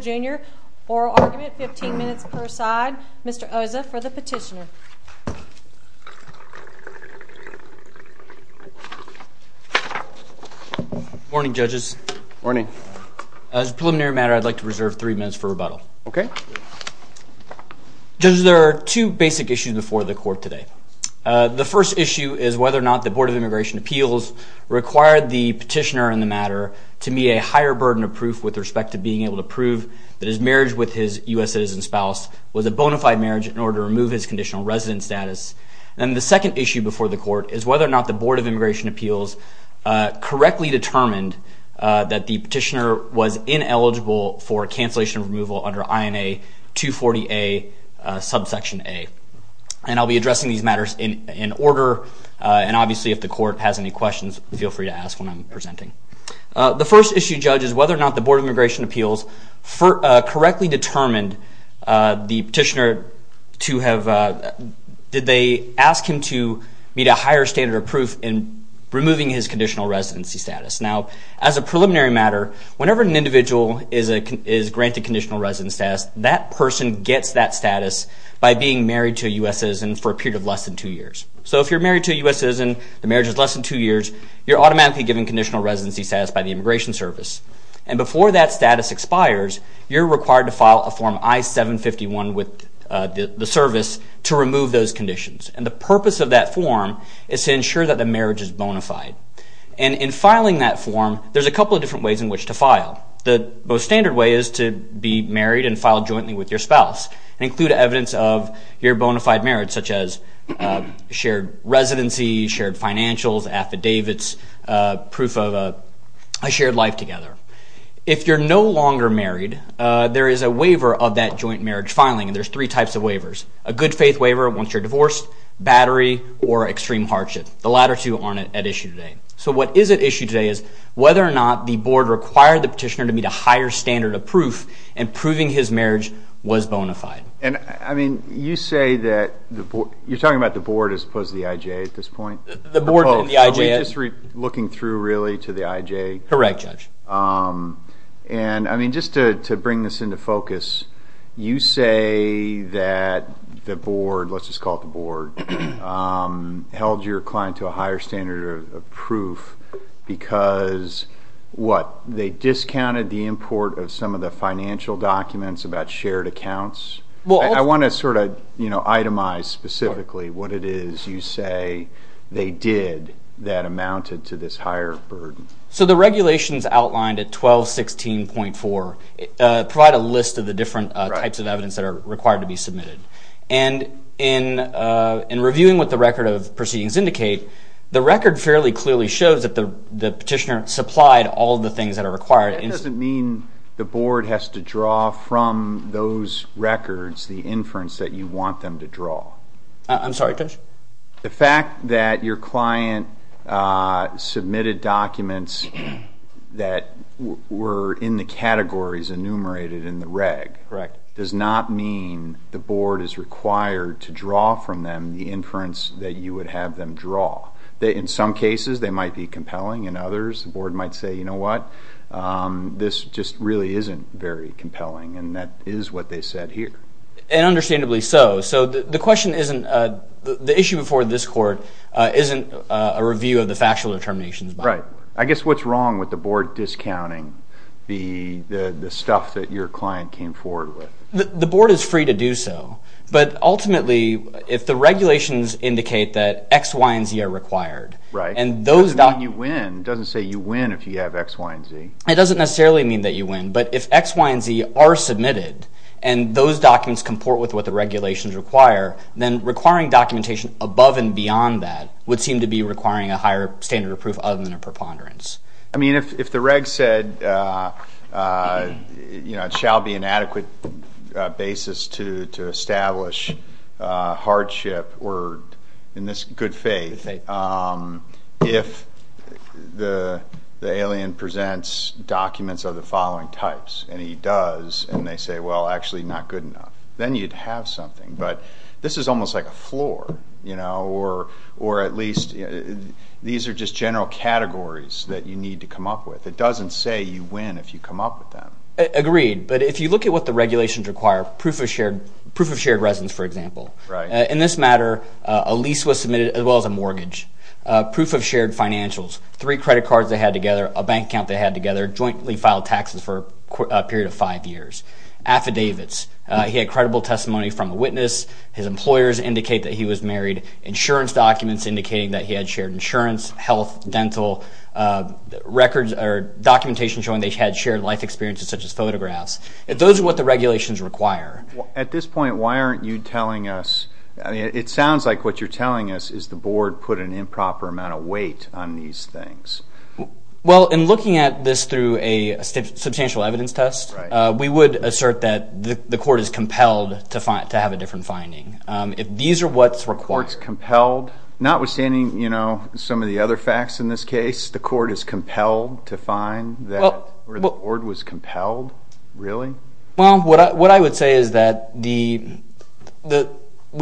Jr. Oral argument, 15 minutes per side. Mr. Oza for the petitioner. Morning, judges. Morning. As a preliminary matter, I'd like to reserve three minutes for rebuttal. Okay. Judges, there are two basic issues before the court today. The first issue is whether or not the Board of Immigration Appeals required the petitioner in the matter to meet a higher burden of proof with respect to being able to prove that his marriage with his U.S. citizen spouse was a bona fide marriage in order to remove his conditional resident status. And the second issue before the court is whether or not the Board of Immigration Appeals correctly determined that the petitioner was ineligible for cancellation of removal under INA 240A, subsection A. And I'll be addressing these matters in order, and obviously if the court has any questions, feel free to ask when I'm presenting. The first issue, judges, whether or not the Board of Immigration Appeals correctly determined the petitioner to have, did they ask him to meet a higher standard of proof in removing his conditional residency status. Now, as a preliminary matter, whenever an individual is granted conditional resident status, that person gets that status by being married to a U.S. citizen for a period of less than two years. So if you're married to a U.S. citizen, the marriage is less than two years, you're automatically given conditional residency status by the Immigration Service. And before that status expires, you're required to file a Form I-751 with the service to remove those conditions. And the purpose of that form is to ensure that the marriage is bona fide. And in filing that form, there's a couple of different ways in which to file. The most standard way is to be married and file jointly with your spouse and include evidence of your bona fide marriage, such as shared residency, shared financials, affidavits, proof of a shared life together. If you're no longer married, there is a waiver of that joint marriage filing, and there's three types of waivers. A good-faith waiver once you're divorced, battery, or extreme hardship. The latter two aren't at issue today. So what is at issue today is whether or not the board required the petitioner to meet a higher standard of proof in proving his marriage was bona fide. And, I mean, you say that you're talking about the board as opposed to the IJ at this point? The board and the IJ. Are we just looking through, really, to the IJ? Correct, Judge. And, I mean, just to bring this into focus, you say that the board, let's just call it the board, held your client to a higher standard of proof because, what, they discounted the import of some of the financial documents about shared accounts? I want to sort of itemize specifically what it is you say they did that amounted to this higher burden. So the regulations outlined at 1216.4 provide a list of the different types of evidence that are required to be submitted. And in reviewing what the record of proceedings indicate, the record fairly clearly shows that the petitioner supplied all of the things that are required. That doesn't mean the board has to draw from those records the inference that you want them to draw. I'm sorry, Judge? The fact that your client submitted documents that were in the categories enumerated in the reg. Correct. Does not mean the board is required to draw from them the inference that you would have them draw. In some cases, they might be compelling. In others, the board might say, you know what, this just really isn't very compelling, and that is what they said here. And understandably so. So the issue before this court isn't a review of the factual determinations. Right. I guess what's wrong with the board discounting the stuff that your client came forward with? The board is free to do so. But ultimately, if the regulations indicate that X, Y, and Z are required. Right. It doesn't say you win if you have X, Y, and Z. It doesn't necessarily mean that you win, but if X, Y, and Z are submitted, and those documents comport with what the regulations require, then requiring documentation above and beyond that would seem to be requiring a higher standard of proof other than a preponderance. I mean, if the reg said, you know, it shall be an adequate basis to establish hardship or, in this good faith, if the alien presents documents of the following types, and he does, and they say, well, actually not good enough, then you'd have something. But this is almost like a floor, you know, or at least these are just general categories that you need to come up with. It doesn't say you win if you come up with them. Agreed. But if you look at what the regulations require, proof of shared residence, for example. In this matter, a lease was submitted, as well as a mortgage. Proof of shared financials. Three credit cards they had together, a bank account they had together, jointly filed taxes for a period of five years. Affidavits. He had credible testimony from a witness. His employers indicate that he was married. Insurance documents indicating that he had shared insurance. Health, dental records or documentation showing they had shared life experiences, such as photographs. Those are what the regulations require. It sounds like what you're telling us is the board put an improper amount of weight on these things. Well, in looking at this through a substantial evidence test, we would assert that the court is compelled to have a different finding. These are what's required. Notwithstanding, you know, some of the other facts in this case, the court is compelled to find that the board was compelled? Really? Well, what I would say is that we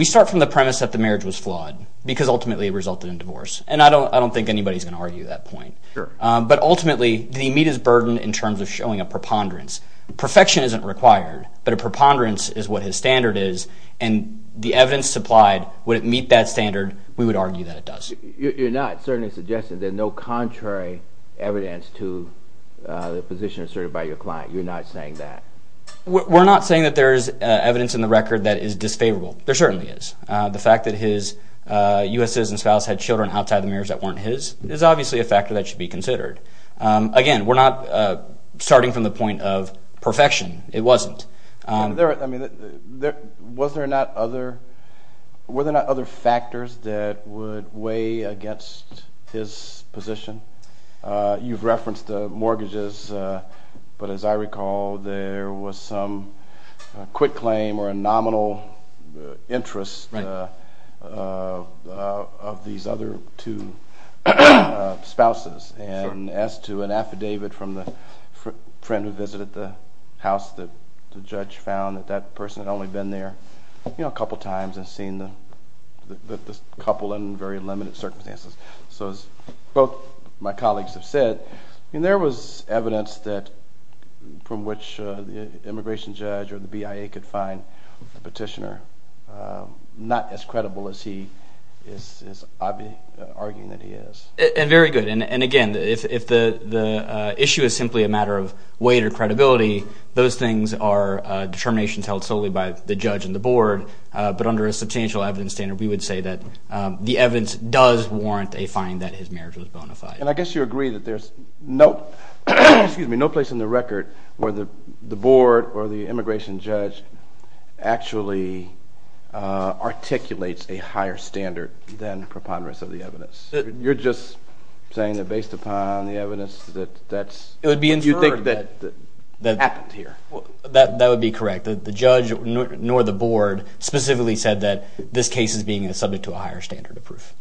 start from the premise that the marriage was flawed because ultimately it resulted in divorce. And I don't think anybody's going to argue that point. But ultimately, did he meet his burden in terms of showing a preponderance? Perfection isn't required, but a preponderance is what his standard is. And the evidence supplied, would it meet that standard? We would argue that it does. You're not certainly suggesting there's no contrary evidence to the position asserted by your client. You're not saying that? We're not saying that there's evidence in the record that is disfavorable. There certainly is. The fact that his U.S. citizen spouse had children outside the mirrors that weren't his is obviously a factor that should be considered. Again, we're not starting from the point of perfection. It wasn't. Were there not other factors that would weigh against his position? You've referenced mortgages. But as I recall, there was some quick claim or a nominal interest of these other two spouses. And as to an affidavit from the friend who visited the house that the judge found that that person had only been there a couple times and seen the couple in very limited circumstances. So as both my colleagues have said, there was evidence from which the immigration judge or the BIA could find the petitioner not as credible as he is arguing that he is. And very good. And again, if the issue is simply a matter of weight or credibility, those things are determinations held solely by the judge and the board. But under a substantial evidence standard, we would say that the evidence does warrant a fine that his marriage was bona fide. And I guess you agree that there's no place in the record where the board or the immigration judge actually articulates a higher standard than preponderance of the evidence. You're just saying that based upon the evidence that you think that happened here. That would be correct. The judge nor the board specifically said that this case is being subject to a higher standard of proof.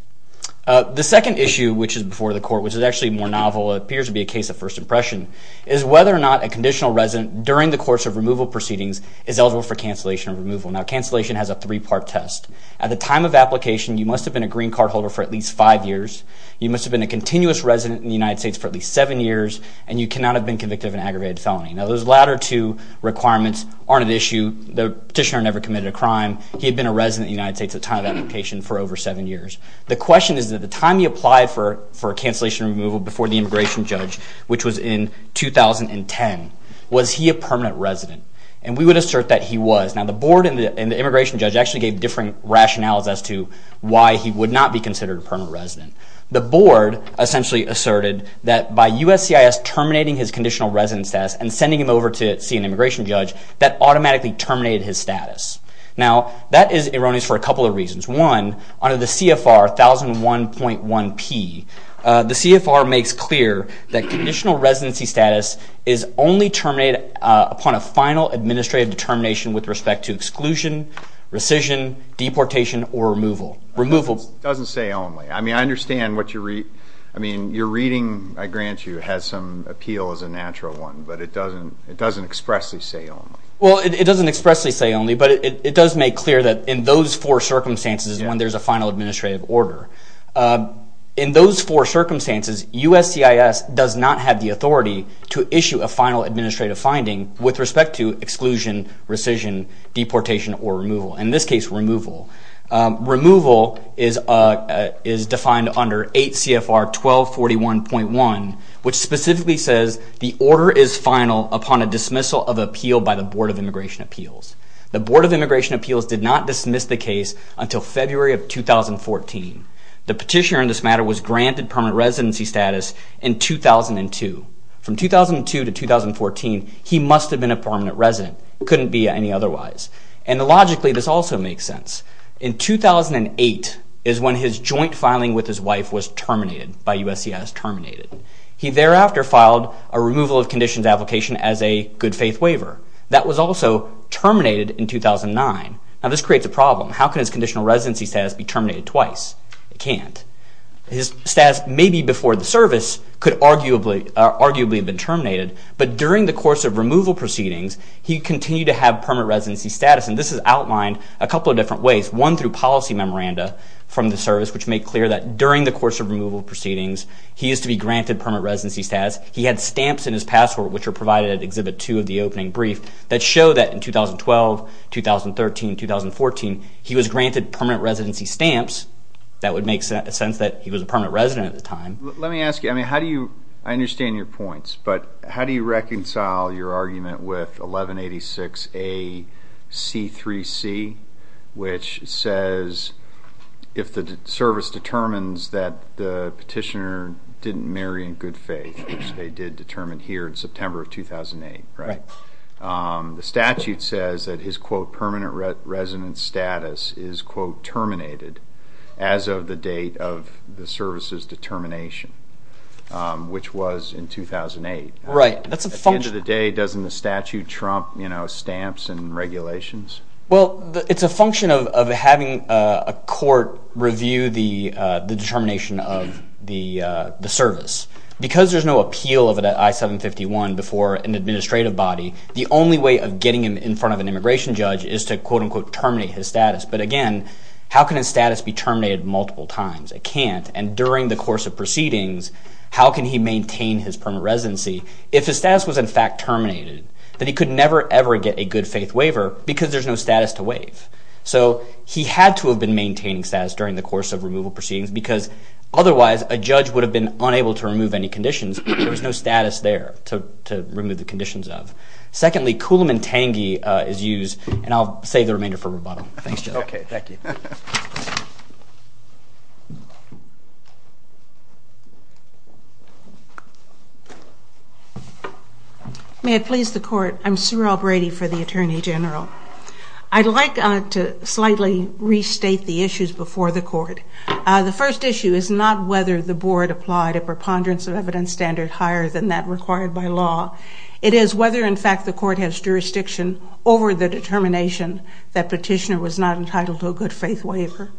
The second issue, which is before the court, which is actually more novel and appears to be a case of first impression, is whether or not a conditional resident during the course of removal proceedings is eligible for cancellation of removal. Now, cancellation has a three-part test. At the time of application, you must have been a green card holder for at least five years. You must have been a continuous resident in the United States for at least seven years. And you cannot have been convicted of an aggravated felony. Now, those latter two requirements aren't an issue. The petitioner never committed a crime. He had been a resident in the United States at the time of application for over seven years. The question is that the time he applied for a cancellation removal before the immigration judge, which was in 2010, was he a permanent resident? And we would assert that he was. Now, the board and the immigration judge actually gave different rationales as to why he would not be considered a permanent resident. The board essentially asserted that by USCIS terminating his conditional resident status and sending him over to see an immigration judge, that automatically terminated his status. Now, that is erroneous for a couple of reasons. One, under the CFR 1001.1p, the CFR makes clear that conditional residency status is only terminated upon a final administrative determination with respect to exclusion, rescission, deportation, or removal. Removal doesn't say only. I mean, your reading, I grant you, has some appeal as a natural one, but it doesn't expressly say only. Well, it doesn't expressly say only, but it does make clear that in those four circumstances when there's a final administrative order. In those four circumstances, USCIS does not have the authority to issue a final administrative finding with respect to exclusion, rescission, deportation, or removal. In this case, removal. Removal is defined under 8 CFR 1241.1, which specifically says the order is final upon a dismissal of appeal by the Board of Immigration Appeals. The Board of Immigration Appeals did not dismiss the case until February of 2014. The petitioner in this matter was granted permanent residency status in 2002. From 2002 to 2014, he must have been a permanent resident. It couldn't be any otherwise. And logically, this also makes sense. In 2008 is when his joint filing with his wife was terminated by USCIS. Terminated. He thereafter filed a removal of conditions application as a good faith waiver. That was also terminated in 2009. Now this creates a problem. How can his conditional residency status be terminated twice? It can't. His status maybe before the service could arguably have been terminated, but during the course of removal proceedings, he continued to have permanent residency status. And this is outlined a couple of different ways. One, through policy memoranda from the service, which made clear that during the course of removal proceedings, he is to be granted permanent residency status. He had stamps in his passport, which are provided at Exhibit 2 of the opening brief, that show that in 2012, 2013, 2014, he was granted permanent residency stamps. That would make sense that he was a permanent resident at the time. Let me ask you. I understand your points, but how do you reconcile your argument with 1186AC3C, which says if the service determines that the petitioner didn't marry in good faith, which they did determine here in September of 2008, the statute says that his permanent resident status is to be quote unquote terminated as of the date of the service's determination, which was in 2008. At the end of the day, doesn't the statute trump stamps and regulations? Well, it's a function of having a court review the determination of the service. Because there's no appeal of it at I-751 before an administrative body, the only way of getting him in front of an immigration judge is to quote unquote terminate his status. But again, how can his status be terminated multiple times? It can't. And during the course of proceedings, how can he maintain his permanent residency if his status was in fact terminated, that he could never ever get a good faith waiver because there's no status to waive. So he had to have been maintaining status during the course of removal proceedings, because otherwise a judge would have been unable to remove any conditions. There was no status there to remove the conditions of. Secondly, coulomb and tangy is used, and I'll save the remainder for rebuttal. Thanks, Joe. May it please the court. I'm Cyril Brady for the Attorney General. I'd like to slightly restate the issues before the court. The first issue is not whether the board applied a preponderance of evidence standard higher than that required by law. It is whether in fact the court has jurisdiction over the determination that petitioner was not entitled to a good faith waiver.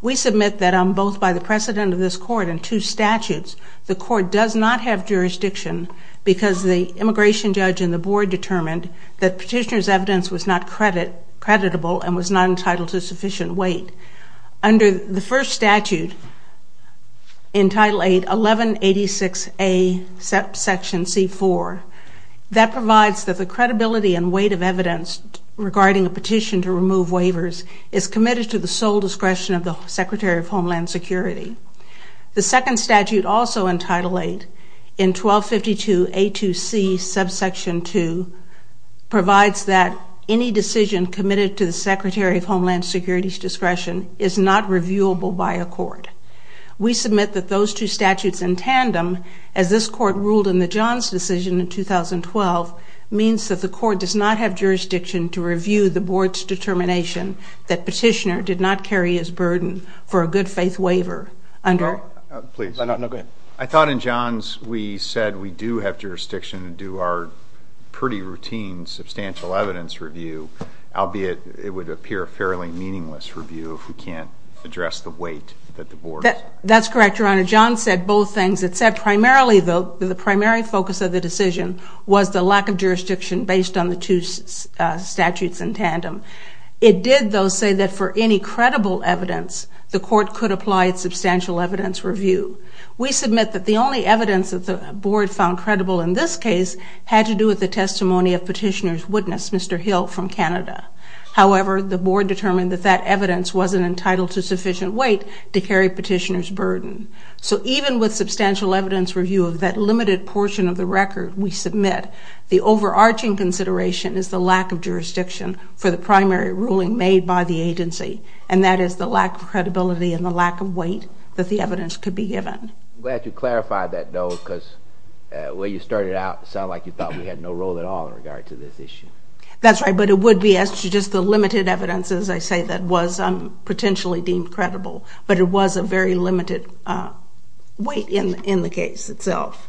We submit that both by the precedent of this court and two statutes, the court does not have jurisdiction because the immigration judge and the board determined that petitioner's evidence was not creditable and was not entitled to sufficient weight. Under the first statute, in Title 8, 1186A, Section C4, that provides that the credibility and weight of evidence regarding a petition to remove waivers is committed to the sole discretion of the Secretary of Homeland Security. The second statute, also in Title 8, in 1252A2C, Subsection 2, provides that any decision committed to the Secretary of Homeland Security's discretion is not reviewable by a court. We submit that those two statutes in tandem, as this court ruled in the Johns decision in 2012, means that the court does not have jurisdiction to review the board's determination that petitioner did not carry his burden for a good faith waiver. I thought in Johns we said we do have jurisdiction to do our pretty routine substantial evidence review, albeit it would appear a fairly meaningless review if we can't address the weight that the board has. That's correct, Your Honor. John said both things. It said primarily the primary focus of the decision was the lack of jurisdiction based on the two statutes in tandem. It did, though, say that for any credible evidence, the court could apply its substantial evidence review. We submit that the only evidence that the board found credible in this case had to do with the testimony of petitioner's witness, Mr. Hill from Canada. However, the board determined that that evidence wasn't entitled to sufficient weight to carry petitioner's burden. So even with substantial evidence review of that limited portion of the record we submit, the overarching consideration is the lack of jurisdiction for the primary ruling made by the agency, and that is the lack of credibility and the lack of weight that the evidence could be given. I'm glad you clarified that, though, because the way you started it out, it sounded like you thought we had no role at all in regard to this issue. That's right, but it would be as to just the limited evidence, as I say, that was potentially deemed credible, but it was a very limited weight in the case itself.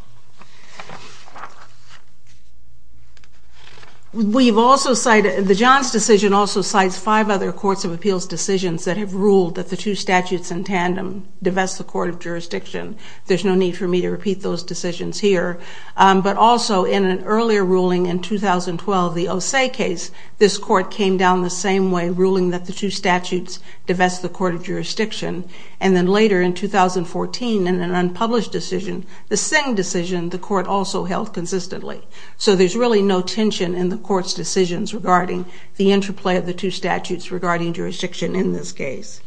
The Johns decision also cites five other courts of appeals decisions that have ruled that the two statutes in tandem divest the court of jurisdiction. There's no need for me to repeat those decisions here, but also in an earlier ruling in 2012, the Osei case, this court came down the same way, ruling that the two statutes divest the court of jurisdiction, and then later in 2014 in an unpublished decision, the Singh decision, the court also held consistently. So there's really no tension in the court's decisions regarding the interplay of the two statutes regarding jurisdiction in this case.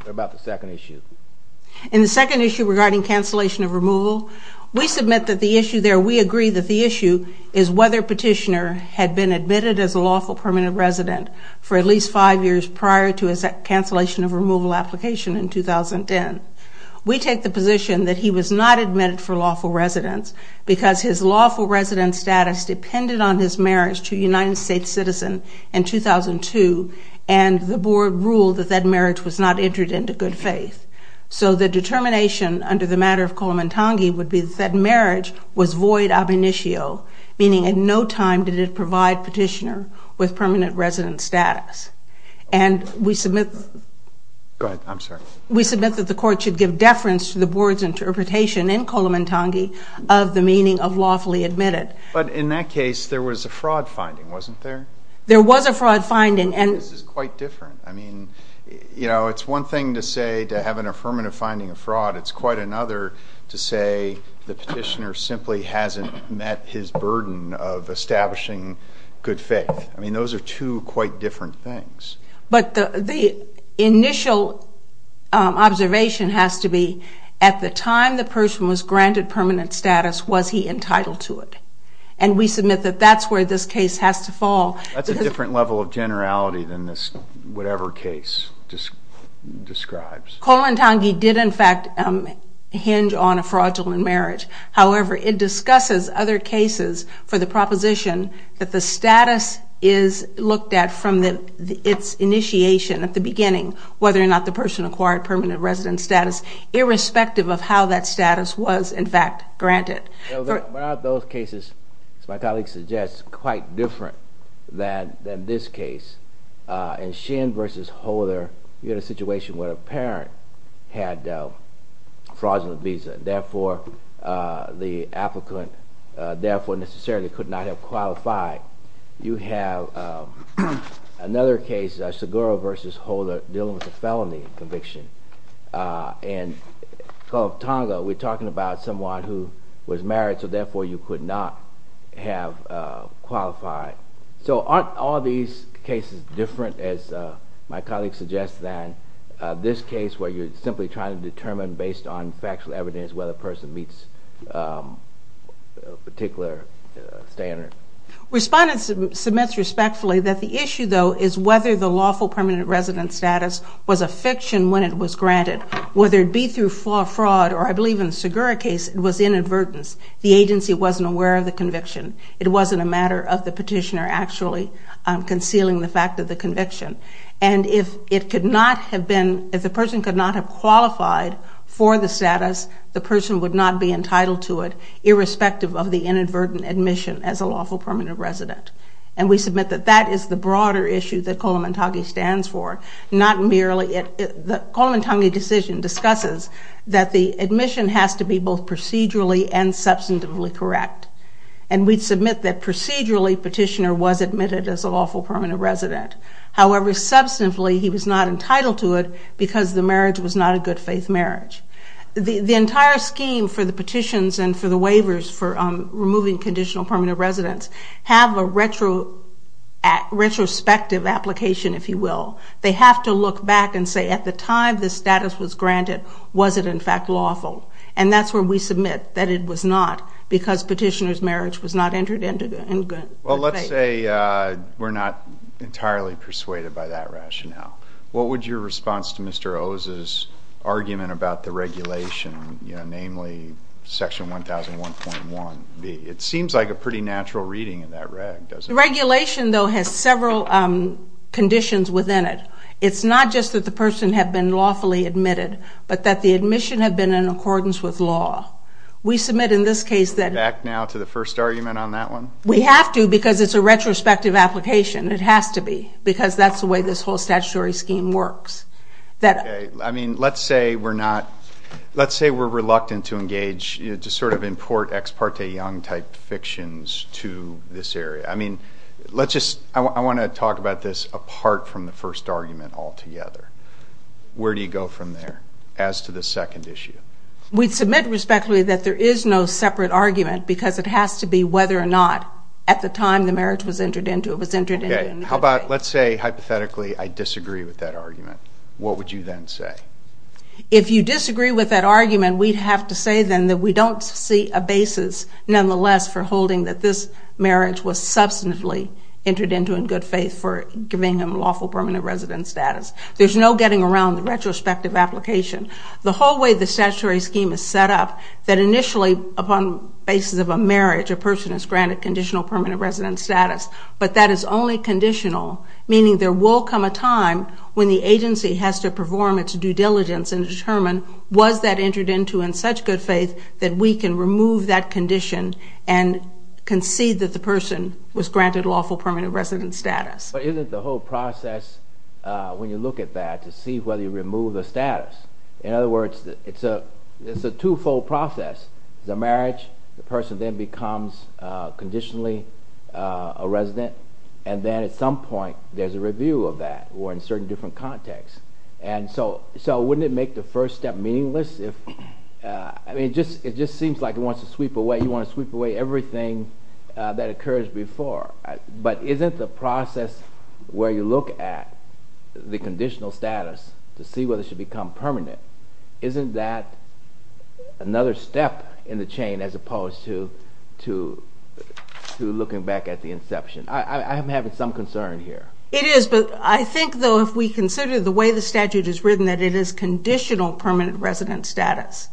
What about the second issue? In the second issue regarding cancellation of removal, we submit that the issue there, we agree that the issue is whether Petitioner had been admitted as a lawful permanent resident for at least five years prior to his cancellation of removal application in 2010. We take the position that he was not admitted for lawful residence because his lawful residence status depended on his marriage to a United States citizen in 2002, and the board ruled that that marriage was not entered into good faith. So the determination under the matter of Kolamantangi would be that that marriage was void ab initio, meaning at no time did it provide Petitioner with permanent resident status. And we submit that the court should give deference to the board's interpretation in Kolamantangi of the meaning of lawfully admitted. But in that case, there was a fraud finding, wasn't there? There was a fraud finding. This is quite different. I mean, you know, it's one thing to say to have an affirmative finding of fraud. It's quite another to say the Petitioner simply hasn't met his burden of establishing good faith. I mean, those are two quite different things. But the initial observation has to be, at the time the person was granted permanent status, was he entitled to it? And we submit that that's where this case has to fall. That's a different level of generality than this whatever case just describes. Kolamantangi did, in fact, hinge on a fraudulent marriage. However, it discusses other cases for the proposition that the status is looked at from its initiation at the beginning, whether or not the person acquired permanent resident status, irrespective of how that status was, in fact, granted. But aren't those cases, as my colleague suggests, quite different than this case? In Shin v. Holder, you had a situation where a parent had a fraudulent visa. Therefore, the applicant therefore necessarily could not have qualified. You have another case, Seguro v. Holder, dealing with a felony conviction. And Kolamantangi, we're talking about someone who was married. So therefore, you could not have qualified. So aren't all these cases different, as my colleague suggests, than this case, where you're simply trying to determine, based on factual evidence, whether a person meets a particular standard? Respondents submits respectfully that the issue, though, is whether the lawful permanent resident status was a fiction when it was granted. Whether it be through fraud or, I believe, in the Seguro case, it was inadvertence. The agency wasn't aware of the conviction. It wasn't a matter of the petitioner actually concealing the fact of the conviction. And if the person could not have qualified for the status, the person would not be entitled to it, irrespective of the inadvertent admission as a lawful permanent resident. And we submit that that is the broader issue that Kolamantangi stands for, not merely it. The Kolamantangi decision discusses that the admission has to be both procedurally and substantively correct. And we submit that procedurally, petitioner was admitted as a lawful permanent resident. However, substantively, he was not entitled to it because the marriage was not a good faith marriage. The entire scheme for the petitions and for the waivers for removing conditional permanent residents have a retrospective application, if you will. They have to look back and say, at the time the status was granted, was it in fact lawful? And that's where we submit that it was not, because petitioner's marriage was not entered into good faith. Well, let's say we're not entirely persuaded by that rationale. What would your response to Mr. Oza's argument about the regulation, namely Section 1001.1, be? It seems like a pretty natural reading of that reg, doesn't it? Regulation, though, has several conditions within it. It's not just that the person had been lawfully admitted, but that the admission had been in accordance with law. We submit in this case that... Back now to the first argument on that one? We have to, because it's a retrospective application. It has to be. Because that's the way this whole statutory scheme works. Let's say we're reluctant to engage, to sort of import ex parte young type fictions to this area. I mean, let's just, I want to talk about this part from the first argument altogether. Where do you go from there, as to the second issue? We submit respectfully that there is no separate argument, because it has to be whether or not, at the time the marriage was entered into, it was entered into in good faith. How about, let's say, hypothetically, I disagree with that argument. What would you then say? If you disagree with that argument, we'd have to say then that we don't see a basis, nonetheless, for holding that this marriage was substantively entered into in good faith for giving him lawful permanent residence status. There's no getting around the retrospective application. The whole way the statutory scheme is set up, that initially, upon basis of a marriage, a person is granted conditional permanent residence status, but that is only conditional, meaning there will come a time when the agency has to perform its due diligence and determine, was that entered into in such good faith that we can remove that condition and concede that the person was granted lawful permanent residence status. But isn't the whole process, when you look at that, to see whether you remove the status? In other words, it's a two-fold process. The marriage, the person then becomes conditionally a resident, and then at some point, there's a review of that, or in certain different contexts. So wouldn't it make the first step meaningless? It just seems like it wants to sweep away, you want to sweep away everything that occurs before. But isn't the process where you look at the conditional status to see whether it should become permanent, isn't that another step in the chain as opposed to looking back at the inception? I'm having some concern here. It is, but I think, though, if we consider the way the statute is written, that it is conditional permanent residence status.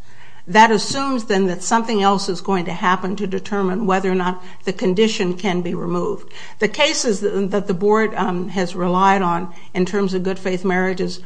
That assumes, then, that something else is going to happen to determine whether or not the condition can be removed. The cases that the board has relied on in terms of good faith marriages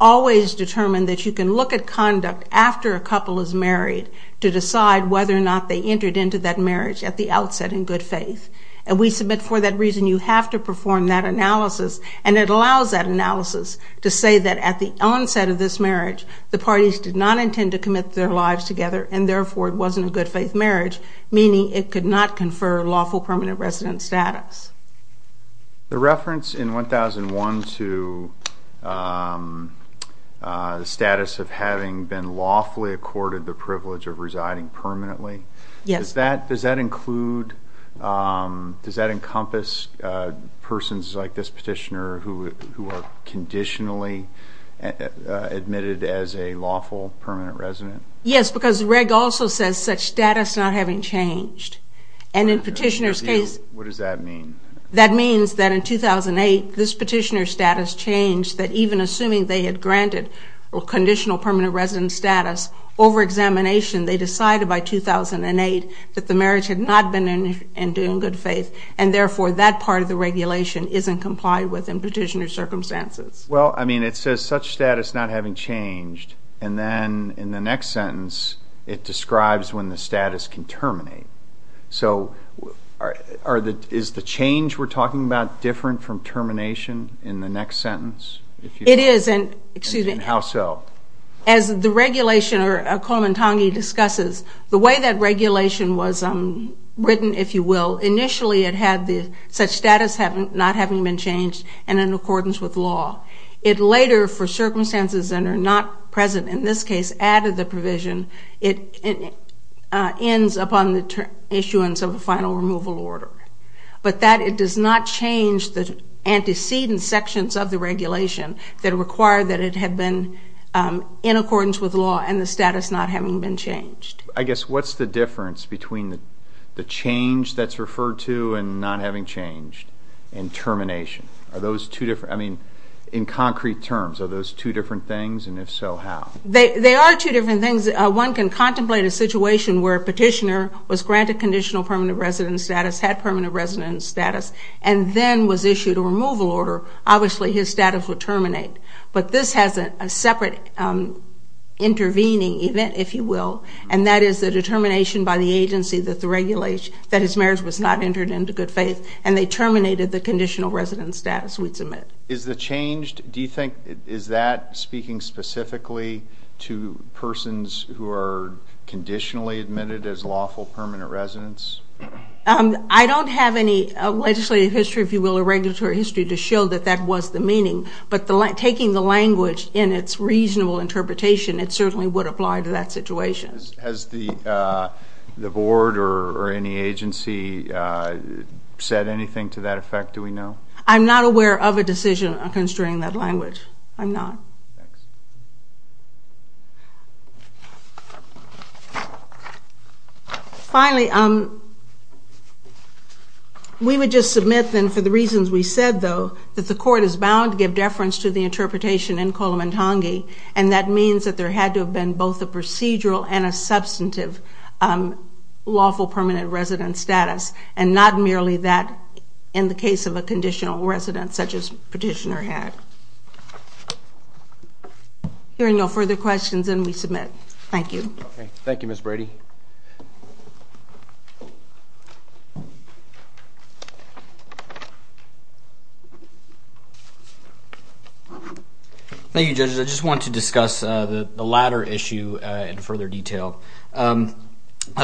always determine that you can look at conduct after a couple is married to decide whether or not they entered into that marriage at the outset in good faith. And we submit, for that reason, you have to perform that analysis, and it allows that analysis to say that at the onset of this marriage, the parties did not intend to commit their lives together, and therefore, it wasn't a good faith marriage, meaning it could not confer lawful permanent residence status. The reference in 1001 to the status of having been lawfully accorded the privilege of residing permanently, does that include, does that encompass persons like this petitioner who are conditionally admitted as a lawful permanent resident? Yes, because the reg also says such status not having changed, and in petitioner's case... Well, I mean, it says such status not having changed, and then in the next sentence, it describes when the status can terminate. So, is the change we're talking about different from termination in the new regulation? Yes. Is it in the next sentence? It is, and as the regulation discusses, the way that regulation was written, if you will, initially it had the status not having been changed, and in accordance with law. It later, for circumstances that are not present in this case, added the provision, it ends upon the issuance of a final removal order, but that it does not change the antecedent sections of the regulation that require that it had been in accordance with law and the status not having been changed. I guess, what's the difference between the change that's referred to and not having changed and termination? Are those two different, I mean, in concrete terms, are those two different things, and if so, how? They are two different things. One can contemplate a situation where a petitioner was granted conditional permanent resident status, had permanent resident status, and then was issued a removal order. Obviously, his status would terminate, but this has a separate intervening event, if you will, and that is the determination by the agency that the regulation, that his marriage was not entered into good faith, and they terminated the conditional resident status we'd submit. Is the changed, do you think, is that speaking specifically to persons who are conditionally admitted as lawful permanent residents? I don't have any legislative history, if you will, or regulatory history to show that that was the meaning, but taking the language in its reasonable interpretation, it certainly would apply to that situation. Has the board or any agency said anything to that effect, do we know? I'm not aware of a decision concerning that language. I'm not. Finally, we would just submit, then, for the reasons we said, though, that the court is bound to give deference to the interpretation in Kolem and Tangi, and that means that there had to have been both a procedural and a conditional residence, and not merely that in the case of a conditional residence, such as Petitioner had. Hearing no further questions, then we submit. Thank you. Thank you, Ms. Brady. Thank you, judges. I just wanted to discuss the latter issue in further detail. A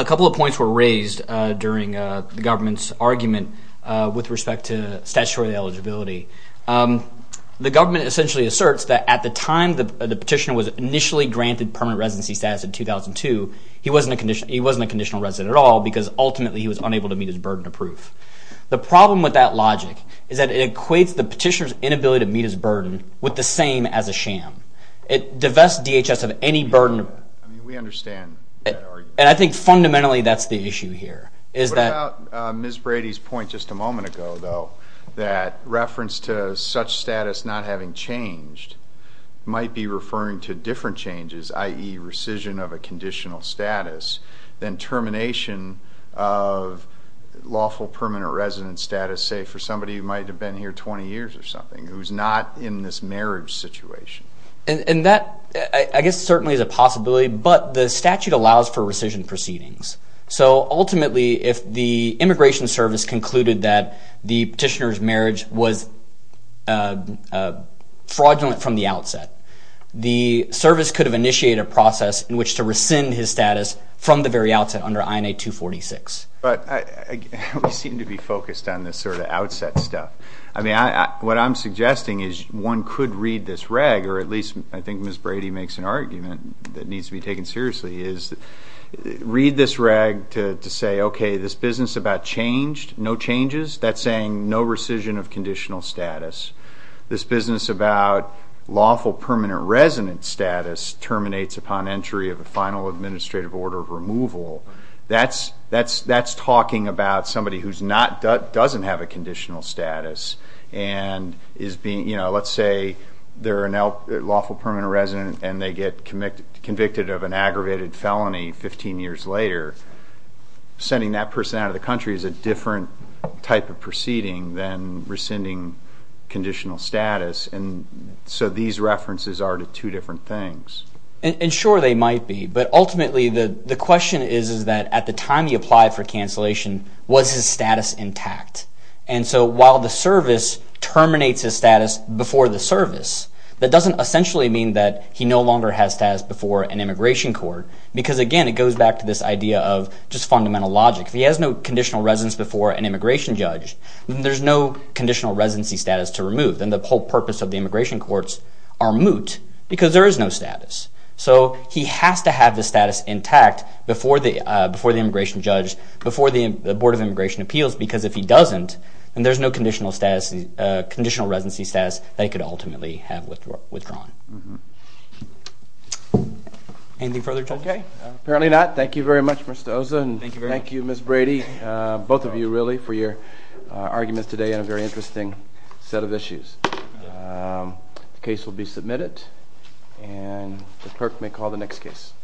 couple of points were raised during the government's argument with respect to statutory eligibility. The government essentially asserts that at the time the petitioner was initially granted permanent residency status in 2002, he wasn't a conditional resident at all, because ultimately he was unable to meet his burden of proof. The problem with that logic is that it equates the petitioner's inability to meet his burden of proof to the same as a sham. It divests DHS of any burden. We understand that argument. And I think fundamentally that's the issue here. What about Ms. Brady's point just a moment ago, though, that reference to such status not having changed might be referring to different changes, i.e., rescission of a conditional status, then termination of lawful permanent resident status, say, for somebody who might have been here 20 years or something, who's not in this marriage situation? And that, I guess, certainly is a possibility. But the statute allows for rescission proceedings. So ultimately, if the Immigration Service concluded that the petitioner's marriage was fraudulent from the outset, the service could have initiated a process in which to rescind his status from the very outset under INA 246. But we seem to be focused on this sort of outset stuff. I mean, what I'm suggesting is one could read this reg, or at least I think Ms. Brady makes an argument that needs to be taken seriously, is read this reg to say, okay, this business about changed, no changes, that's saying no rescission of conditional status. This business about lawful permanent resident status terminates upon entry of a final administrative order of removal, that's talking about somebody who's not, doesn't have a conditional status and is being, you know, let's say they're a lawful permanent resident and they get convicted of an aggravated felony 15 years later. Sending that person out of the country is a different type of proceeding than rescinding conditional status. So these references are to two different things. And sure they might be, but ultimately the question is that at the time he applied for cancellation, was his status intact? And so while the service terminates his status before the service, that doesn't essentially mean that he no longer has status before an immigration court because again, it goes back to this idea of just fundamental logic. If he has no conditional residence before an immigration judge, then there's no conditional residency status to remove. Then the whole purpose of the immigration courts are moot because there is no status. So he has to have the status intact before the immigration judge, before the Board of Immigration Appeals because if he doesn't, then there's no conditional residency status that he could ultimately have withdrawn. Okay. Apparently not. Thank you very much Mr. Oza and thank you Ms. Brady, both of you really for your arguments today on a very interesting set of issues. The case will be submitted and Ms. Perk may call the next case.